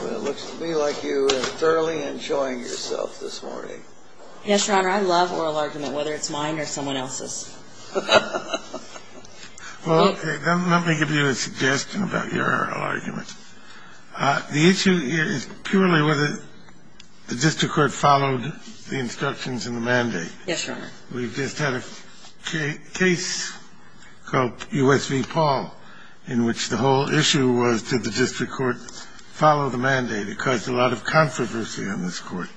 It looks to me like you are thoroughly enjoying yourself this morning. Yes, Your Honor. I love oral argument, whether it's mine or someone else's. Well, let me give you a suggestion about your oral argument. The issue is purely whether the district court followed the instructions in the mandate. Yes, Your Honor. We just had a case called U.S. v. Paul in which the whole issue was did the district court follow the mandate. It caused a lot of controversy on this Court.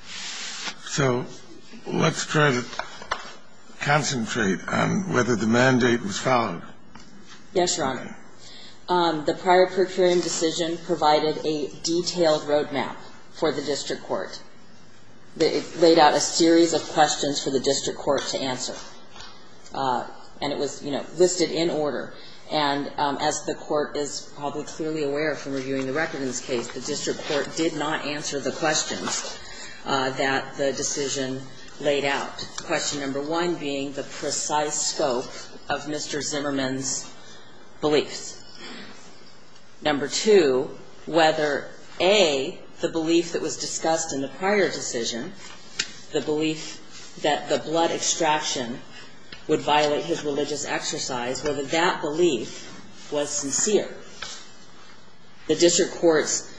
So let's try to concentrate on whether the mandate was followed. Yes, Your Honor. The prior procuring decision provided a detailed roadmap for the district court. It laid out a series of questions for the district court to answer. And it was, you know, listed in order. And as the court is probably clearly aware from reviewing the record in this case, the district court did not answer the questions that the decision laid out. Question number one being the precise scope of Mr. Zimmerman's beliefs. Number two, whether, A, the belief that was discussed in the prior decision, the belief that the blood extraction would violate his religious exercise, whether that belief was sincere. The district court's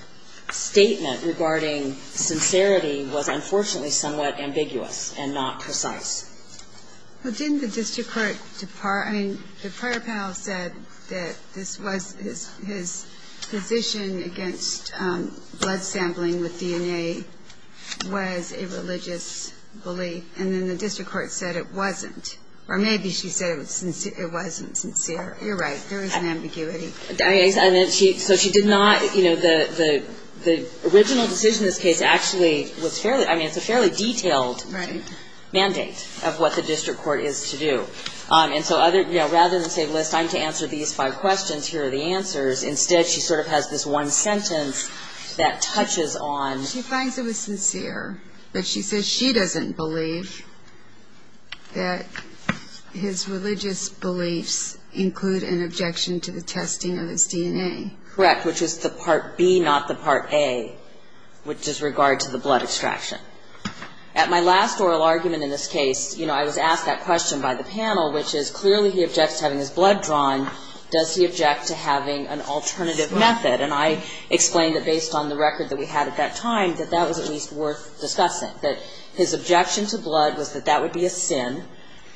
statement regarding sincerity was unfortunately somewhat ambiguous and not precise. Well, didn't the district court, I mean, the prior panel said that this was, his position against blood sampling with DNA was a religious belief. And then the district court said it wasn't. Or maybe she said it wasn't sincere. You're right, there was an ambiguity. So she did not, you know, the original decision in this case actually was fairly, I mean, it's a fairly detailed mandate. Of what the district court is to do. And so rather than say, well, it's time to answer these five questions, here are the answers. Instead, she sort of has this one sentence that touches on. She finds it was sincere. But she says she doesn't believe that his religious beliefs include an objection to the testing of his DNA. Correct, which is the part B, not the part A, which is regard to the blood extraction. At my last oral argument in this case, you know, I was asked that question by the panel, which is clearly he objects to having his blood drawn. Does he object to having an alternative method? And I explained that based on the record that we had at that time, that that was at least worth discussing. That his objection to blood was that that would be a sin.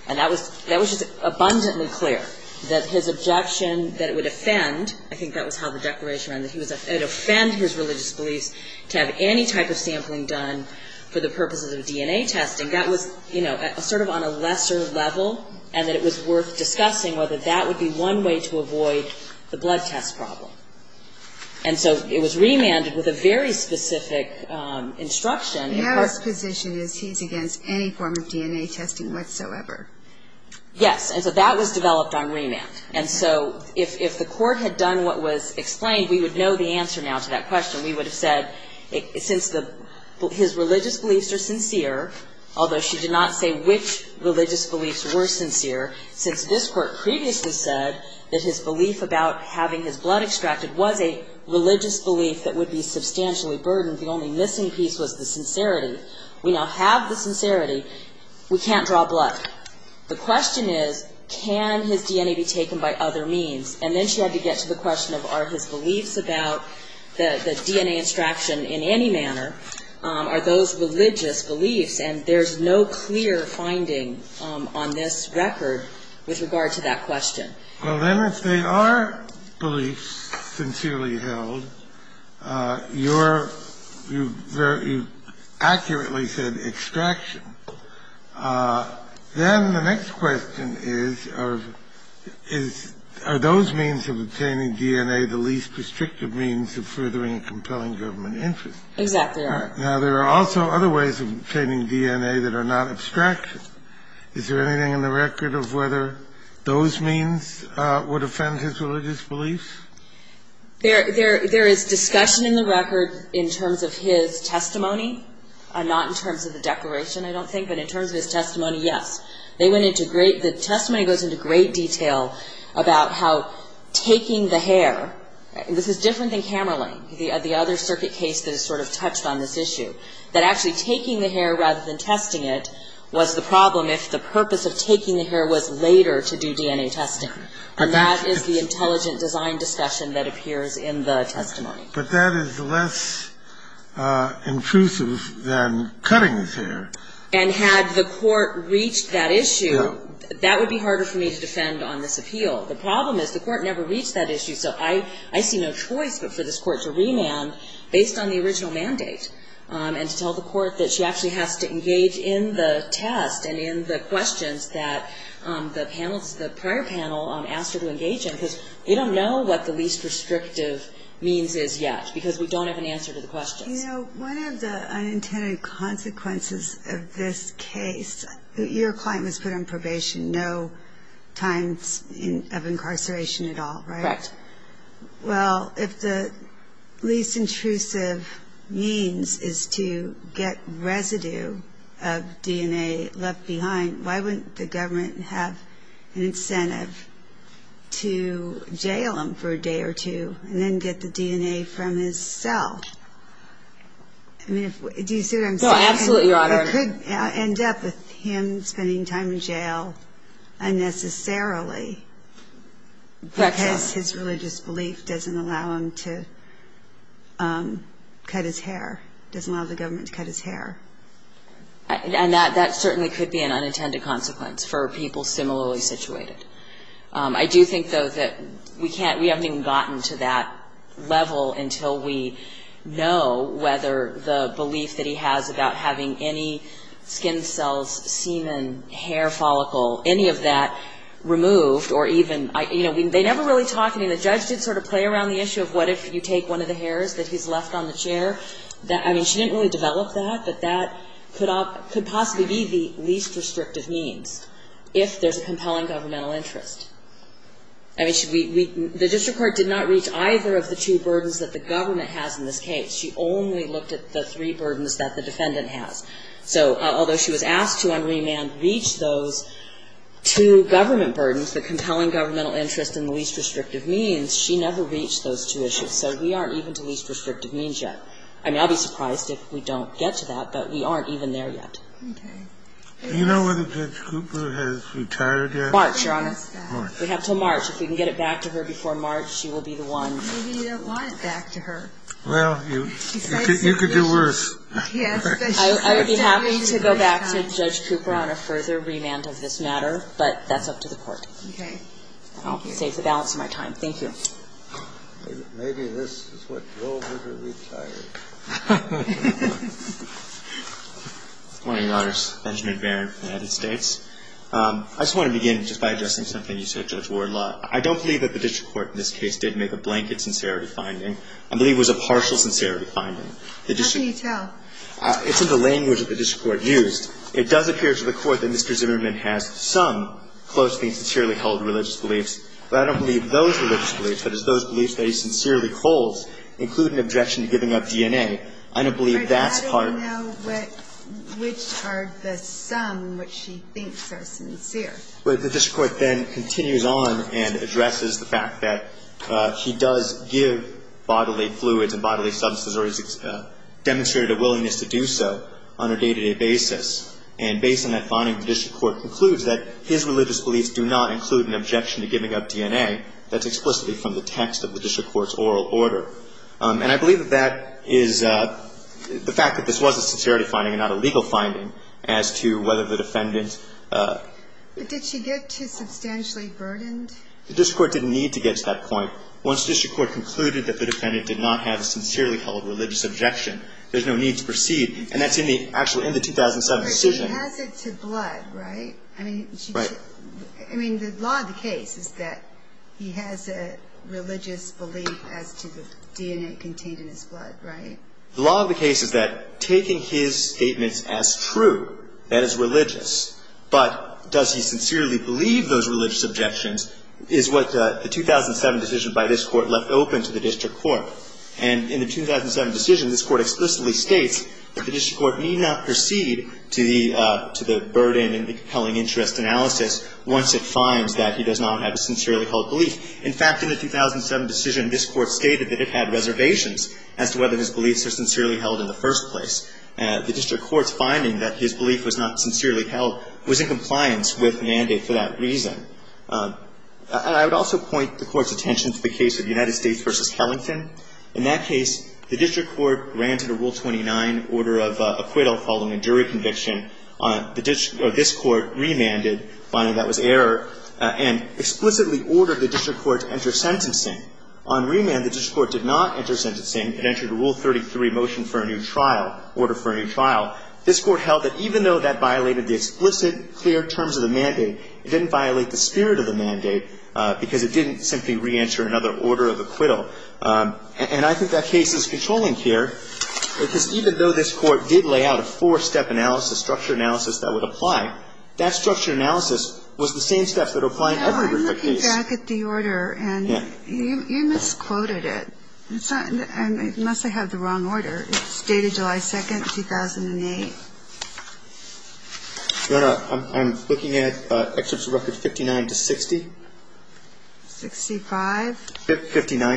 And that was just abundantly clear. That his objection that it would offend, I think that was how the declaration ran, that it would offend his religious beliefs to have any type of sampling done for the purposes of DNA testing. That was, you know, sort of on a lesser level. And that it was worth discussing whether that would be one way to avoid the blood test problem. And so it was remanded with a very specific instruction. Now his position is he's against any form of DNA testing whatsoever. Yes. And so that was developed on remand. And so if the court had done what was explained, we would know the answer now to that question. We would have said since his religious beliefs are sincere, although she did not say which religious beliefs were sincere, since this court previously said that his belief about having his blood extracted was a religious belief that would be substantially burdened, the only missing piece was the sincerity. We now have the sincerity. We can't draw blood. The question is, can his DNA be taken by other means? And then she had to get to the question of, are his beliefs about the DNA extraction in any manner, are those religious beliefs? And there's no clear finding on this record with regard to that question. Well, then, if they are beliefs sincerely held, you're very – you accurately said extraction. Then the next question is, are those means of obtaining DNA the least restrictive means of furthering a compelling government interest? Exactly right. Now, there are also other ways of obtaining DNA that are not abstraction. Is there anything in the record of whether those means would offend his religious beliefs? There is discussion in the record in terms of his testimony, not in terms of the declaration, I don't think, but in terms of his testimony, yes. They went into great – the testimony goes into great detail about how taking the hair – this is different than Hammerling, the other circuit case that is sort of touched on this issue, that actually taking the hair rather than testing it was the problem if the purpose of taking the hair was later to do DNA testing. And that is the intelligent design discussion that appears in the testimony. But that is less intrusive than cutting his hair. And had the court reached that issue, that would be harder for me to defend on this appeal. The problem is the court never reached that issue, so I see no choice but for this and to tell the court that she actually has to engage in the test and in the questions that the prior panel asked her to engage in because we don't know what the least restrictive means is yet because we don't have an answer to the questions. You know, one of the unintended consequences of this case, your client was put on probation, no times of incarceration at all, right? Correct. Well, if the least intrusive means is to get residue of DNA left behind, why wouldn't the government have an incentive to jail him for a day or two and then get the DNA from his cell? I mean, do you see what I'm saying? No, absolutely, Your Honor. But it could end up with him spending time in jail unnecessarily. Correct, Your Honor. Because his religious belief doesn't allow him to cut his hair, doesn't allow the government to cut his hair. And that certainly could be an unintended consequence for people similarly situated. I do think, though, that we haven't even gotten to that level until we know whether the belief that he has about having any skin cells, semen, hair follicle, any of that removed or even, you know, they never really talk. I mean, the judge did sort of play around the issue of what if you take one of the hairs that he's left on the chair. I mean, she didn't really develop that, but that could possibly be the least restrictive means if there's a compelling governmental interest. I mean, the district court did not reach either of the two burdens that the government has in this case. She only looked at the three burdens that the defendant has. So although she was asked to on remand reach those two government burdens, the compelling governmental interest and the least restrictive means, she never reached those two issues. So we aren't even to least restrictive means yet. I mean, I'll be surprised if we don't get to that, but we aren't even there yet. Okay. Do you know whether Judge Cooper has retired yet? March, Your Honor. We have until March. If we can get it back to her before March, she will be the one. Maybe you don't want it back to her. Well, you could do worse. I would be happy to go back to Judge Cooper on a further remand of this matter, but that's up to the court. Okay. I'll save the balance of my time. Thank you. Maybe this is what drove her to retire. Good morning, Your Honors. Benjamin Baron from the United States. I just want to begin just by addressing something you said, Judge Wardlaw. I don't believe that the district court in this case did make a blanket sincerity finding. I believe it was a partial sincerity finding. How can you tell? It's in the language that the district court used. It does appear to the court that Mr. Zimmerman has some closely and sincerely held religious beliefs, but I don't believe those religious beliefs, that is, those beliefs that he sincerely holds include an objection to giving up DNA. I don't believe that's part of it. I don't know which are the some which she thinks are sincere. Well, the district court then continues on and addresses the fact that he does give bodily fluids and bodily substances or he's demonstrated a willingness to do so on a day-to-day basis. And based on that finding, the district court concludes that his religious beliefs do not include an objection to giving up DNA. That's explicitly from the text of the district court's oral order. And I believe that that is the fact that this was a sincerity finding and not a legal finding as to whether the defendant... But did she get too substantially burdened? The district court didn't need to get to that point. Once the district court concluded that the defendant did not have a sincerely held religious objection, there's no need to proceed. And that's actually in the 2007 decision. But she has it to blood, right? Right. I mean, the law of the case is that he has a religious belief as to the DNA contained in his blood, right? The law of the case is that taking his statements as true, that is religious. But does he sincerely believe those religious objections is what the 2007 decision by this court left open to the district court. And in the 2007 decision, this court explicitly states that the district court need not proceed to the burden and the compelling interest analysis once it finds that he does not have a sincerely held belief. In fact, in the 2007 decision, this court stated that it had reservations as to whether his beliefs are sincerely held in the first place. The district court's finding that his belief was not sincerely held was in compliance with mandate for that reason. And I would also point the court's attention to the case of United States v. This Court held that even though that violated the explicit, clear terms of the mandate, it didn't violate the spirit of the mandate because it didn't simply re-enter another order of acquittal. And I think that case is controlling here because even though this Court did lay out another order of acquittal. I'm looking back at the order and you misquoted it. It must have had the wrong order. It stated July 2nd, 2008. Your Honor, I'm looking at excerpts of records 59-60. 65? 55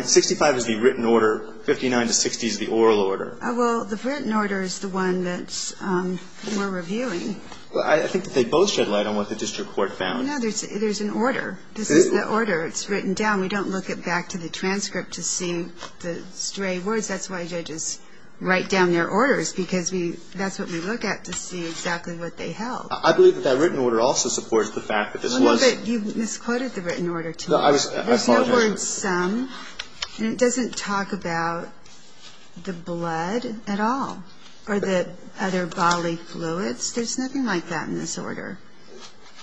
is the written order, 59-60 is the oral order. It's a mistake. I'm not going to believe it. We're reviewing. I think they both shed light on what the district court found. There's an order. This is the order. It's written down. We don't look it back to the transcript to see the stray words. That's why judges write down their orders, because that's what we look at to see exactly what they held. I believe that written order also supports the fact that this was. You misquoted the written order. I apologize. There's no word some, and it doesn't talk about the blood at all or the other bodily fluids. There's nothing like that in this order.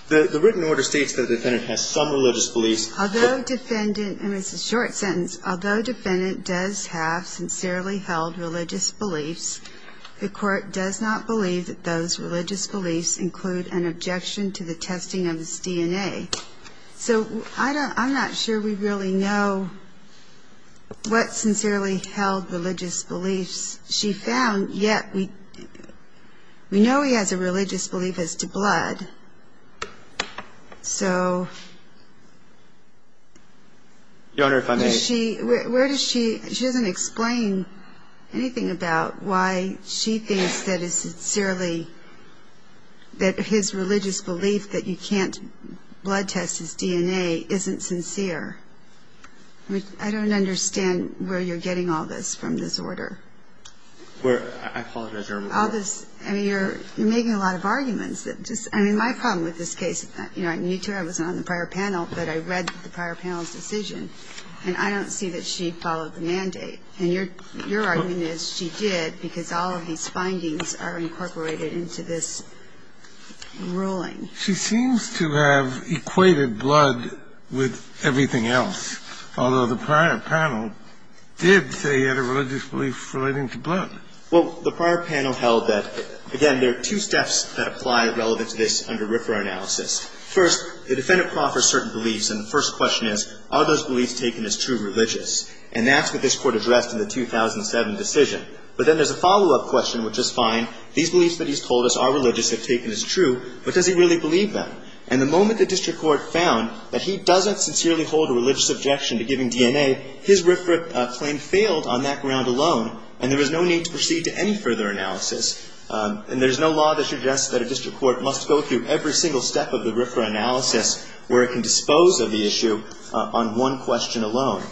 The written order states that the defendant has some religious beliefs. Although defendant, and it's a short sentence, although defendant does have sincerely held religious beliefs, the court does not believe that those religious beliefs include an objection to the testing of his DNA. So I'm not sure we really know what sincerely held religious beliefs she found, yet we know he has a religious belief as to blood. So does she, where does she, she doesn't explain anything about why she thinks that it's sincerely that his religious belief that you can't blood test his DNA isn't sincere. I don't understand where you're getting all this from this order. I apologize, Your Honor. All this, I mean, you're making a lot of arguments. I mean, my problem with this case, you know, I knew Tara was on the prior panel, but I read the prior panel's decision, and I don't see that she followed the mandate. And your argument is she did because all of these findings are incorporated into this ruling. She seems to have equated blood with everything else, although the prior panel did say he had a religious belief relating to blood. Well, the prior panel held that, again, there are two steps that apply relevant to this under RFRA analysis. First, the defendant proffers certain beliefs, and the first question is, are those beliefs taken as true religious? And that's what this Court addressed in the 2007 decision. But then there's a follow-up question, which is fine, these beliefs that he's told us are religious, they're taken as true, but does he really believe them? And the moment the district court found that he doesn't sincerely hold a religious objection to giving DNA, his RFRA claim failed on that ground alone, and there was no need to proceed to any further analysis. And there's no law that suggests that a district court must go through every single step of the RFRA analysis where it can dispose of the issue on one question alone.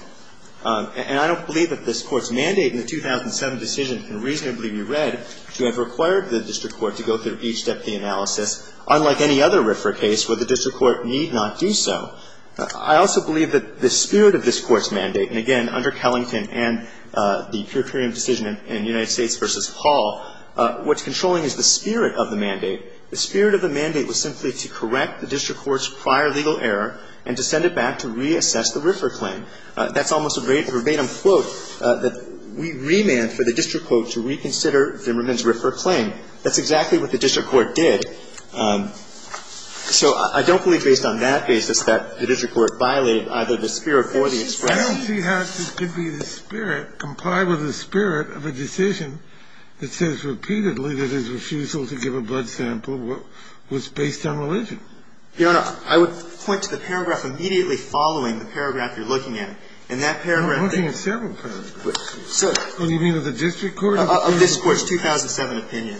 And I don't believe that this Court's mandate in the 2007 decision can reasonably be read to have required the district court to go through each step of the analysis, unlike any other RFRA case where the district court need not do so. I also believe that the spirit of this Court's mandate, and again, under Kellington and the Puritarian decision in United States v. Hall, what's controlling is the spirit of the mandate. The spirit of the mandate was simply to correct the district court's prior legal error and to send it back to reassess the RFRA claim. That's almost a verbatim quote that we remand for the district court to reconsider Zimmerman's RFRA claim. That's exactly what the district court did. So I don't believe based on that basis that the district court violated either the spirit or the expression. Kennedy. She has to be the spirit, comply with the spirit of a decision that says repeatedly that his refusal to give a blood sample was based on religion. Your Honor, I would point to the paragraph immediately following the paragraph you're looking at. In that paragraph. I'm looking at several paragraphs. So. Do you mean of the district court? Of this Court's 2007 opinion.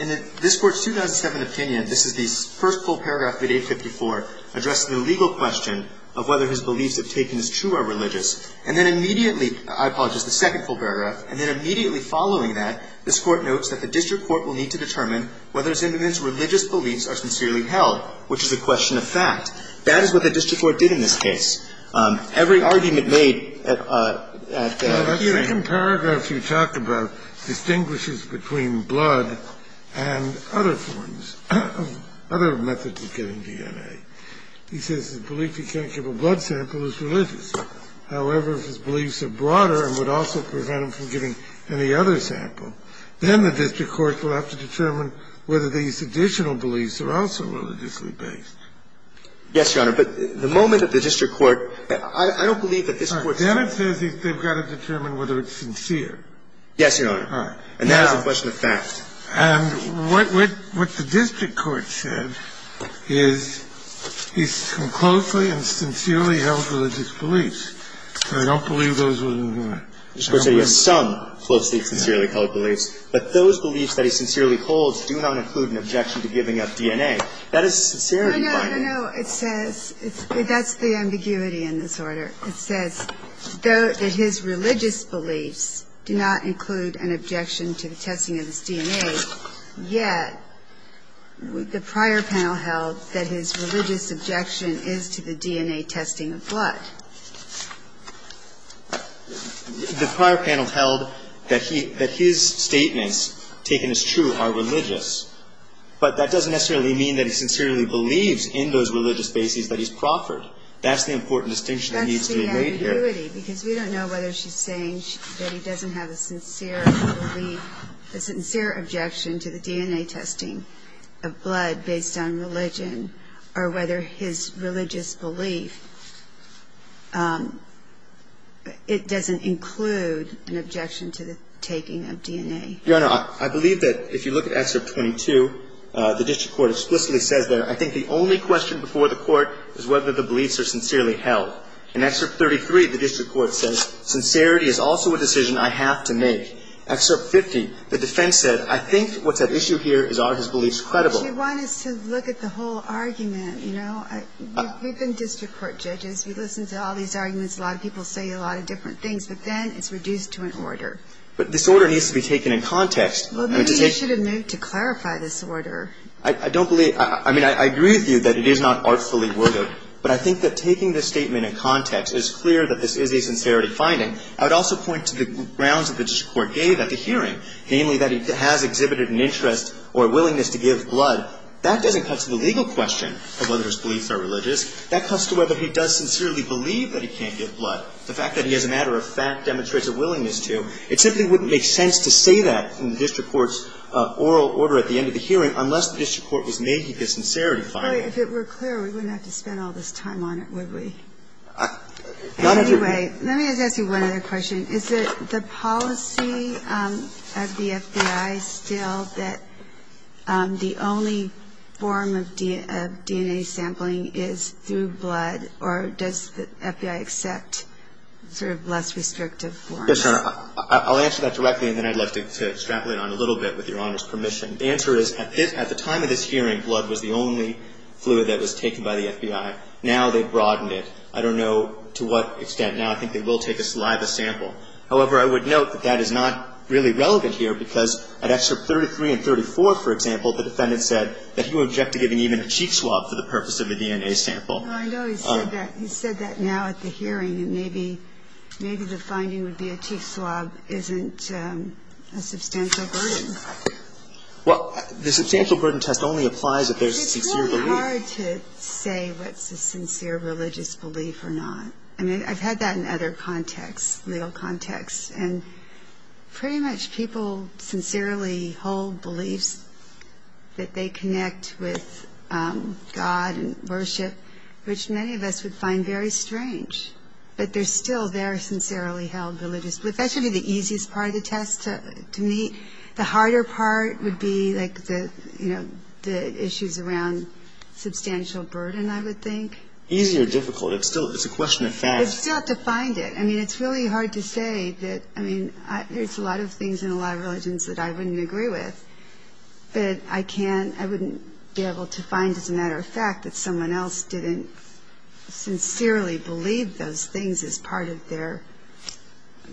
In this Court's 2007 opinion, this is the first full paragraph of 854 addressing the legal question of whether his beliefs, if taken as true, are religious. And then immediately, I apologize, the second full paragraph, and then immediately following that, this Court notes that the district court will need to determine whether Zimmerman's religious beliefs are sincerely held, which is a question of fact. That is what the district court did in this case. Every argument made at that time. The second paragraph you talked about distinguishes between blood and other forms of other methods of getting DNA. He says his belief he can't give a blood sample is religious. However, if his beliefs are broader and would also prevent him from giving any other sample, then the district court will have to determine whether these additional beliefs are also religiously based. Yes, Your Honor. But the moment that the district court – I don't believe that this Court – All right. Then it says they've got to determine whether it's sincere. Yes, Your Honor. All right. And that is a question of fact. And what the district court said is he's come closely and sincerely held religious beliefs. And I don't believe those were – You're supposed to say he has some closely and sincerely held beliefs. That is sincerity binding. No, no, no. It says – that's the ambiguity in this order. It says that his religious beliefs do not include an objection to the testing of his DNA, yet the prior panel held that his religious objection is to the DNA testing of blood. The prior panel held that he – that his statements taken as true are religious, but that doesn't necessarily mean that he sincerely believes in those religious bases that he's proffered. That's the important distinction that needs to be made here. That's the ambiguity, because we don't know whether she's saying that he doesn't have a sincere belief – a sincere objection to the DNA testing of blood based on religion or whether his religious belief – it doesn't include an objection to the taking of DNA. Your Honor, I believe that if you look at Excerpt 22, the district court explicitly says that I think the only question before the court is whether the beliefs are sincerely held. In Excerpt 33, the district court says sincerity is also a decision I have to make. Excerpt 50, the defense said I think what's at issue here is are his beliefs credible. Well, she wanted us to look at the whole argument, you know. We've been district court judges. We've listened to all these arguments. A lot of people say a lot of different things, but then it's reduced to an order. But this order needs to be taken in context. Well, maybe you should admit to clarify this order. I don't believe – I mean, I agree with you that it is not artfully worded, but I think that taking this statement in context is clear that this is a sincerity finding. I would also point to the grounds that the district court gave at the hearing, namely that he has exhibited an interest or a willingness to give blood. That doesn't cut to the legal question of whether his beliefs are religious. That cuts to whether he does sincerely believe that he can't give blood. The fact that he, as a matter of fact, demonstrates a willingness to, it simply wouldn't make sense to say that in the district court's oral order at the end of the hearing unless the district court was making the sincerity finding. If it were clear, we wouldn't have to spend all this time on it, would we? Anyway, let me just ask you one other question. Is it the policy of the FBI still that the only form of DNA sampling is through sort of less restrictive forms? Yes, Your Honor. I'll answer that directly, and then I'd like to straddle it on a little bit with Your Honor's permission. The answer is at the time of this hearing, blood was the only fluid that was taken by the FBI. Now they've broadened it. I don't know to what extent. Now I think they will take a saliva sample. However, I would note that that is not really relevant here because at Excerpt 33 and 34, for example, the defendant said that he would object to giving even a cheek swab for the purpose of a DNA sample. Well, I know he said that. He said that now at the hearing. And maybe the finding would be a cheek swab isn't a substantial burden. Well, the substantial burden test only applies if there's sincere belief. It's really hard to say what's a sincere religious belief or not. I mean, I've had that in other contexts, legal contexts. And pretty much people sincerely hold beliefs that they connect with God and worship which many of us would find very strange. But they're still very sincerely held religious beliefs. That should be the easiest part of the test to me. The harder part would be like the, you know, the issues around substantial burden, I would think. Easy or difficult. It's still a question of facts. You still have to find it. I mean, it's really hard to say that. I mean, there's a lot of things in a lot of religions that I wouldn't agree with. But I can't, I wouldn't be able to find as a matter of fact that someone else didn't sincerely believe those things as part of their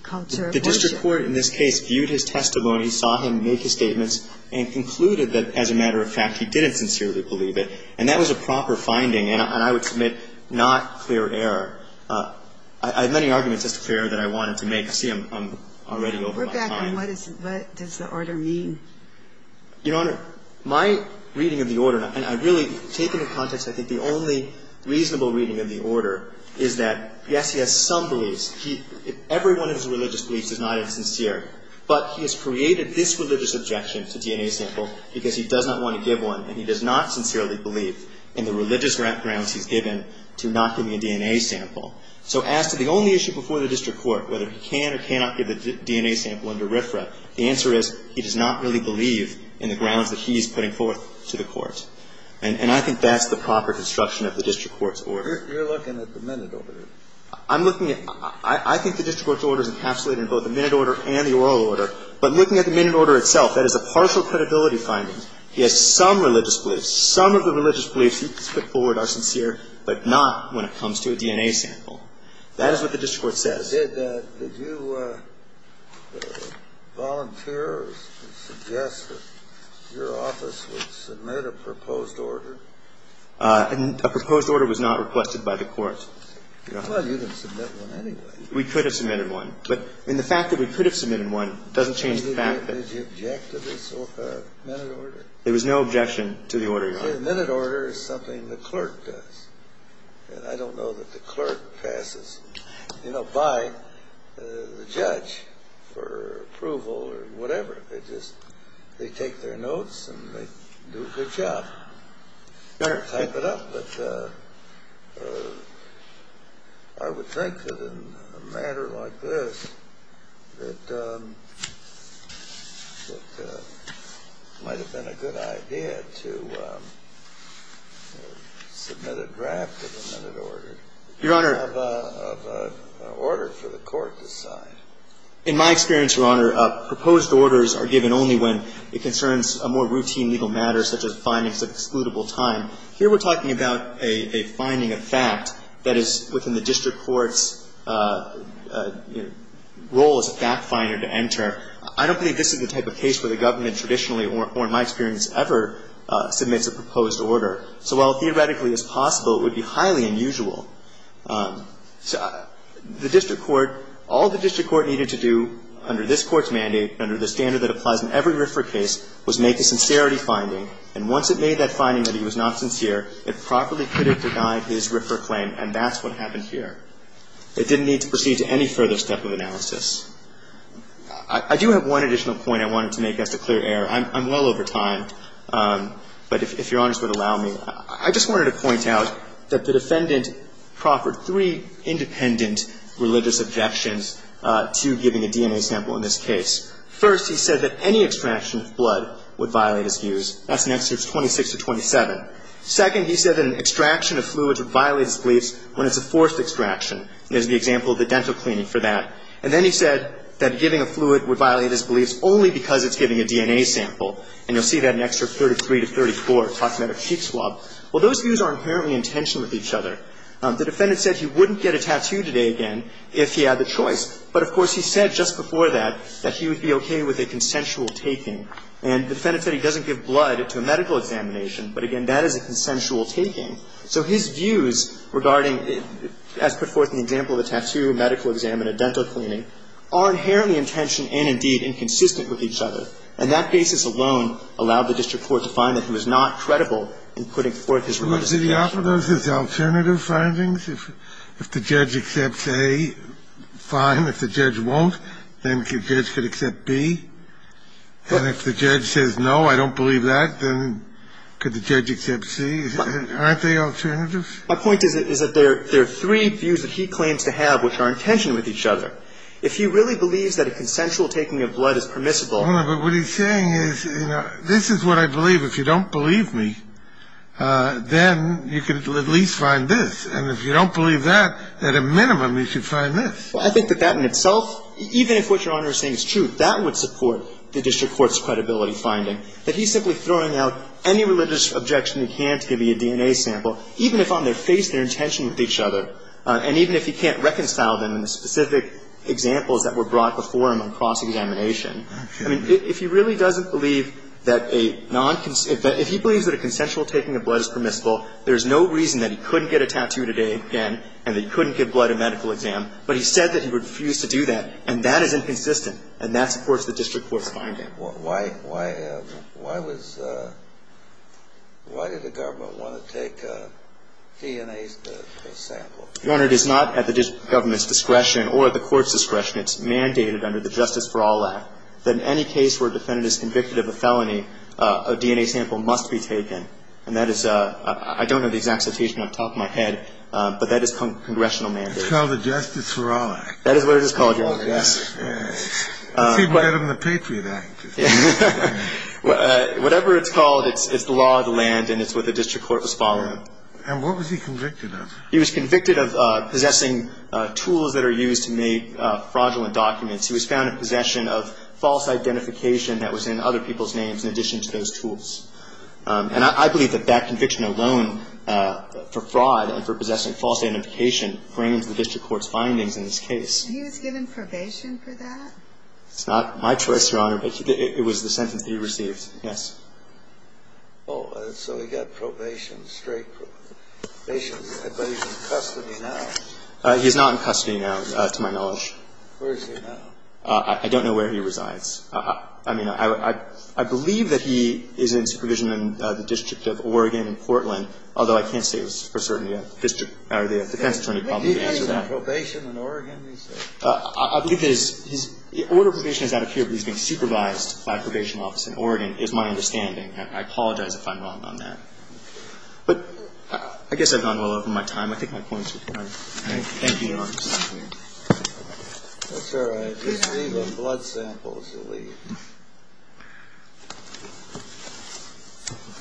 culture of worship. The district court in this case viewed his testimony, saw him make his statements and concluded that as a matter of fact he didn't sincerely believe it. And that was a proper finding. And I would submit not clear error. I have many arguments as to clear error that I wanted to make. I see I'm already over my time. And what does the order mean? Your Honor, my reading of the order, and I really take into context I think the only reasonable reading of the order is that, yes, he has some beliefs. Everyone in his religious beliefs is not insincere. But he has created this religious objection to DNA sample because he does not want to give one and he does not sincerely believe in the religious grounds he's given to not giving a DNA sample. So as to the only issue before the district court, whether he can or cannot give a DNA sample under RFRA, the answer is he does not really believe in the grounds that he's putting forth to the court. And I think that's the proper construction of the district court's order. You're looking at the minute order. I'm looking at – I think the district court's order is encapsulated in both the minute order and the oral order. But looking at the minute order itself, that is a partial credibility finding. He has some religious beliefs. Some of the religious beliefs he's put forward are sincere, but not when it comes to a DNA sample. That is what the district court says. Did you volunteer or suggest that your office would submit a proposed order? A proposed order was not requested by the court. Well, you didn't submit one anyway. We could have submitted one. But in the fact that we could have submitted one doesn't change the fact that – Did you object to this minute order? There was no objection to the order, Your Honor. The minute order is something the clerk does. And I don't know that the clerk passes, you know, by the judge for approval or whatever. They just – they take their notes and they do a good job. Type it up. I would think that in a matter like this, it might have been a good idea to submit a draft of a minute order. Your Honor. And have an order for the court to sign. In my experience, Your Honor, proposed orders are given only when it concerns a more routine legal matter such as findings of excludable time. Here we're talking about a finding of fact that is within the district court's role as a fact finder to enter. I don't think this is the type of case where the government traditionally or in my experience ever submits a proposed order. So while theoretically it's possible, it would be highly unusual. The district court, all the district court needed to do under this Court's mandate, under the standard that applies in every RFRA case, was make a sincerity finding. And once it made that finding that he was not sincere, it properly could have denied his RFRA claim, and that's what happened here. It didn't need to proceed to any further step of analysis. I do have one additional point I wanted to make as a clear error. I'm well over time, but if Your Honors would allow me. I just wanted to point out that the defendant proffered three independent religious objections to giving a DNA sample in this case. First, he said that any extraction of blood would violate his views. That's in Excerpts 26 to 27. Second, he said that an extraction of fluids would violate his beliefs when it's a forced extraction. There's the example of the dental cleaning for that. And then he said that giving a fluid would violate his beliefs only because it's giving a DNA sample. And you'll see that in Excerpt 33 to 34, talking about a cheek swab. Well, those views are inherently in tension with each other. The defendant said he wouldn't get a tattoo today again if he had the choice. But, of course, he said just before that that he would be okay with a consensual taking. And the defendant said he doesn't give blood to a medical examination. But, again, that is a consensual taking. So his views regarding, as put forth in the example of a tattoo, a medical exam, and a dental cleaning, are inherently in tension and, indeed, inconsistent with each other. And that basis alone allowed the district court to find that he was not credible in putting forth his religious opinion. Kennedy. Well, did he offer those as alternative findings? If the judge accepts A, fine. If the judge won't, then the judge could accept B. And if the judge says, no, I don't believe that, then could the judge accept C? Aren't they alternatives? My point is that there are three views that he claims to have which are in tension with each other. If he really believes that a consensual taking of blood is permissible. But what he's saying is, you know, this is what I believe. If you don't believe me, then you can at least find this. And if you don't believe that, at a minimum, you should find this. Well, I think that that in itself, even if what Your Honor is saying is true, that would support the district court's credibility finding, that he's simply throwing out any religious objection he can to give you a DNA sample, even if on their face they're in tension with each other, and even if he can't reconcile them in the specific examples that were brought before him on cross-examination. I mean, if he really doesn't believe that a non-consensual – if he believes that a consensual taking of blood is permissible, there's no reason that he couldn't get a tattoo today again, and that he couldn't give blood a medical exam. But he said that he refused to do that. And that is inconsistent. And that supports the district court's finding. Why was – why did the government want to take DNA samples? Your Honor, it is not at the government's discretion or at the court's discretion. It's mandated under the Justice for All Act that in any case where a defendant is convicted of a felony, a DNA sample must be taken. And that is – I don't know the exact citation off the top of my head, but that is congressional mandate. It's called the Justice for All Act. That is what it is called, Your Honor. Yes. It's even better than the Patriot Act. Whatever it's called, it's the law of the land, and it's what the district court was following. And what was he convicted of? He was convicted of possessing tools that are used to make fraudulent documents. He was found in possession of false identification that was in other people's names in addition to those tools. And I believe that that conviction alone for fraud and for possessing false identification frames the district court's findings in this case. And he was given probation for that? It's not my choice, Your Honor, but it was the sentence that he received. Yes. Oh, so he got probation, straight probation. But he's in custody now. He's not in custody now, to my knowledge. Where is he now? I don't know where he resides. I mean, I believe that he is in supervision in the District of Oregon in Portland, although I can't say for certain the district or the defense attorney probably would answer that. He was on probation in Oregon, you said? I believe that his order of probation is out of here, but he's being supervised by a probation office in Oregon is my understanding. And I apologize if I'm wrong on that. But I guess I've gone well over my time. I think my points are clear. Thank you, Your Honor. That's all right.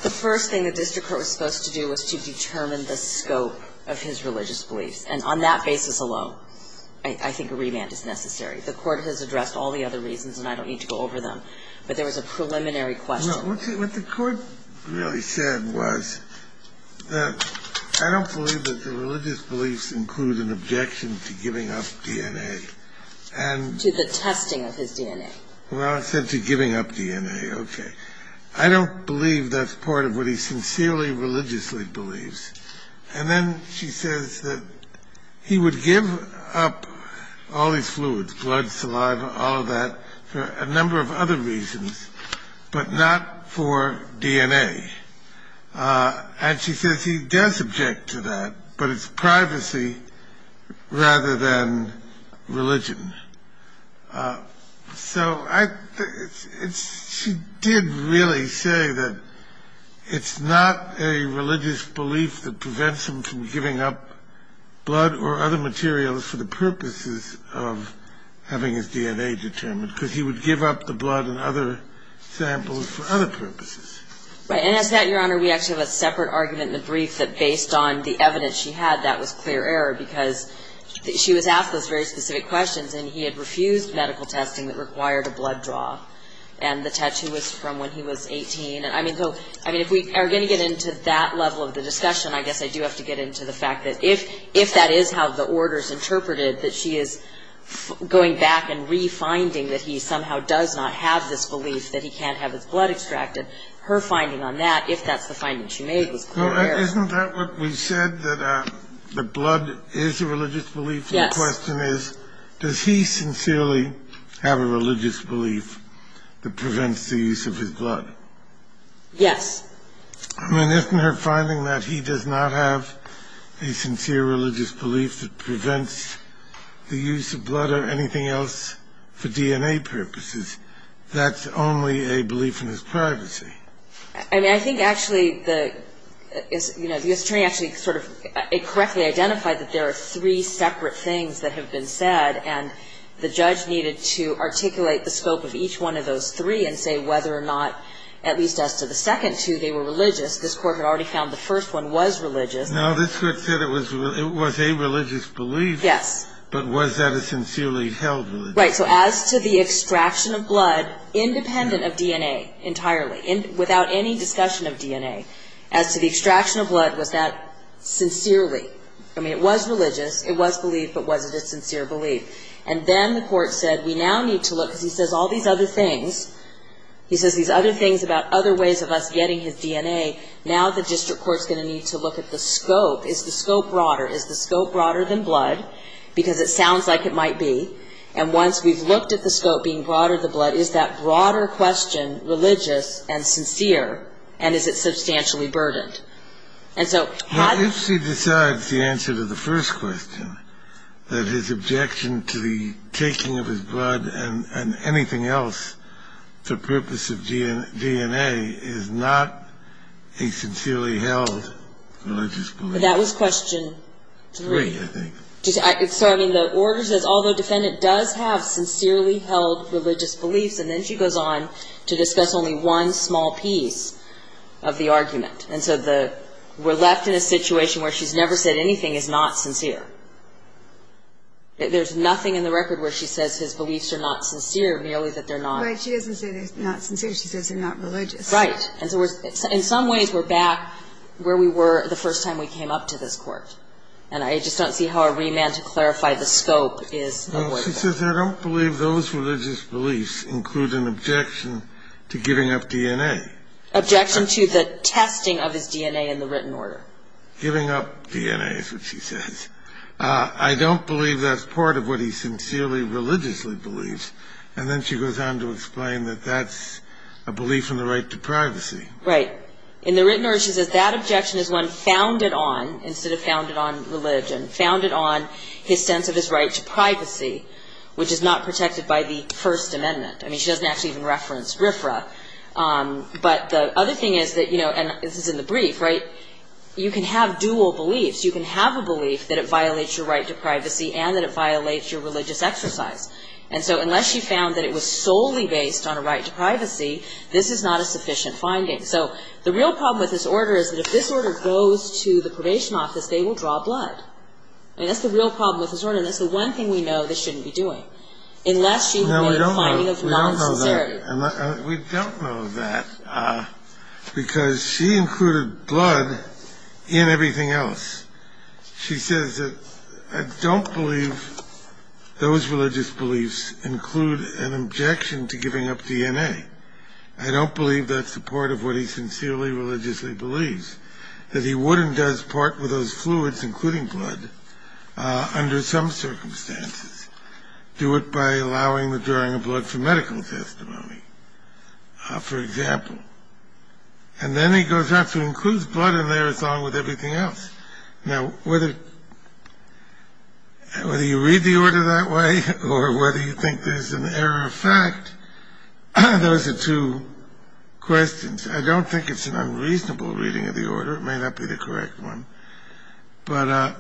The first thing the district court was supposed to do was to determine the scope of his religious beliefs. And on that basis alone, I think a remand is necessary. The court has addressed all the other reasons, and I don't need to go over them. But there was a preliminary question. No. What the court really said was that I don't believe that the religious beliefs include an objection to giving up DNA. To DNA. To the testing of his DNA. Well, it said to giving up DNA. Okay. I don't believe that's part of what he sincerely religiously believes. And then she says that he would give up all his fluids, blood, saliva, all of that, for a number of other reasons, but not for DNA. And she says he does object to that, but it's privacy rather than religion. So she did really say that it's not a religious belief that prevents him from giving up blood or other materials for the purposes of having his DNA determined, because he would give up the blood and other samples for other purposes. And as to that, Your Honor, we actually have a separate argument in the brief that based on the evidence she had, that was clear error, because she was asked those very specific questions. And he had refused medical testing that required a blood draw. And the tattoo was from when he was 18. I mean, if we are going to get into that level of the discussion, I guess I do have to get into the fact that if that is how the order is interpreted, that she is going back and refinding that he somehow does not have this belief that he can't have his blood extracted. Her finding on that, if that's the finding she made, was clear error. Isn't that what we said, that blood is a religious belief? Yes. My question is, does he sincerely have a religious belief that prevents the use of his blood? Yes. I mean, isn't her finding that he does not have a sincere religious belief that prevents the use of blood or anything else for DNA purposes, that's only a belief in his privacy? I mean, I think actually the, you know, the attorney actually sort of correctly identified that there are three separate things that have been said. And the judge needed to articulate the scope of each one of those three and say whether or not, at least as to the second two, they were religious. This Court had already found the first one was religious. Now, this Court said it was a religious belief. Yes. But was that a sincerely held belief? Right. So as to the extraction of blood, independent of DNA entirely, without any discussion of DNA, as to the extraction of blood, was that sincerely? I mean, it was religious, it was belief, but was it a sincere belief? And then the Court said, we now need to look, because he says all these other things, he says these other things about other ways of us getting his DNA, now the district court's going to need to look at the scope. Is the scope broader? Is the scope broader than blood? Because it sounds like it might be. And once we've looked at the scope being broader than blood, is that broader question religious and sincere, and is it substantially burdened? And so how do you... Well, if she decides the answer to the first question, that his objection to the taking of his blood and anything else for purpose of DNA is not a sincerely held religious belief... That was question three. Three, I think. So, I mean, the order says, although defendant does have sincerely held religious beliefs, and then she goes on to discuss only one small piece of the argument. And so we're left in a situation where she's never said anything is not sincere. There's nothing in the record where she says his beliefs are not sincere, merely that they're not. Right. She doesn't say they're not sincere. She says they're not religious. Right. And so in some ways we're back where we were the first time we came up to this Court. And I just don't see how a remand to clarify the scope is avoidable. Well, she says I don't believe those religious beliefs include an objection to giving up DNA. Objection to the testing of his DNA in the written order. Giving up DNA is what she says. I don't believe that's part of what he sincerely religiously believes. And then she goes on to explain that that's a belief in the right to privacy. Right. In the written order she says that objection is one founded on, instead of religion, founded on his sense of his right to privacy, which is not protected by the First Amendment. I mean, she doesn't actually even reference RFRA. But the other thing is that, you know, and this is in the brief, right, you can have dual beliefs. You can have a belief that it violates your right to privacy and that it violates your religious exercise. And so unless she found that it was solely based on a right to privacy, this is not a sufficient finding. So the real problem with this order is that if this order goes to the probation office, they will draw blood. I mean, that's the real problem with this order. And that's the one thing we know this shouldn't be doing. Unless she made a finding of non-sincerity. No, we don't know that. We don't know that because she included blood in everything else. She says that I don't believe those religious beliefs include an objection to giving up DNA. I don't believe that's a part of what he sincerely religiously believes. That he would and does part with those fluids, including blood, under some circumstances. Do it by allowing the drawing of blood for medical testimony, for example. And then he goes on to include blood in there as well with everything else. Now, whether you read the order that way or whether you think there's an error of fact, those are two questions. I don't think it's an unreasonable reading of the order. It may not be the correct one. But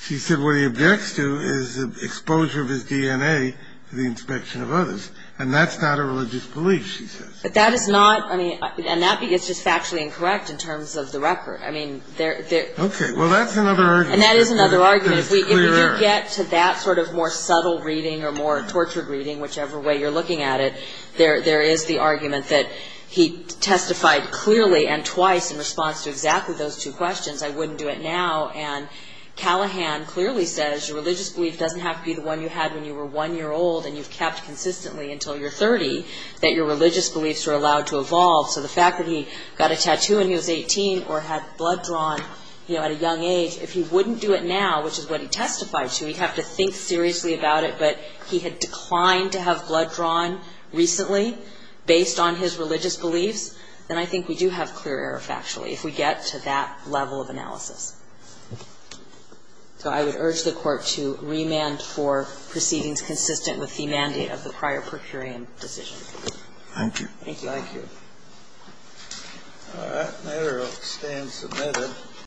she said what he objects to is the exposure of his DNA to the inspection of others. And that's not a religious belief, she says. But that is not. I mean, and that is just factually incorrect in terms of the record. I mean, there. Okay. Well, that's another argument. And that is another argument. If we do get to that sort of more subtle reading or more tortured reading, whichever way you're looking at it, there is the argument that he testified clearly and twice in response to exactly those two questions. I wouldn't do it now. And Callahan clearly says your religious belief doesn't have to be the one you had when you were one year old and you've kept consistently until you're 30 that your religious beliefs are allowed to evolve. So the fact that he got a tattoo when he was 18 or had blood drawn at a young age, if he wouldn't do it now, which is what he testified to, he'd have to think seriously about it. But he had declined to have blood drawn recently based on his religious beliefs, then I think we do have clear error factually if we get to that level of analysis. So I would urge the Court to remand for proceedings consistent with the mandate of the prior per curiam decision. Thank you. Thank you.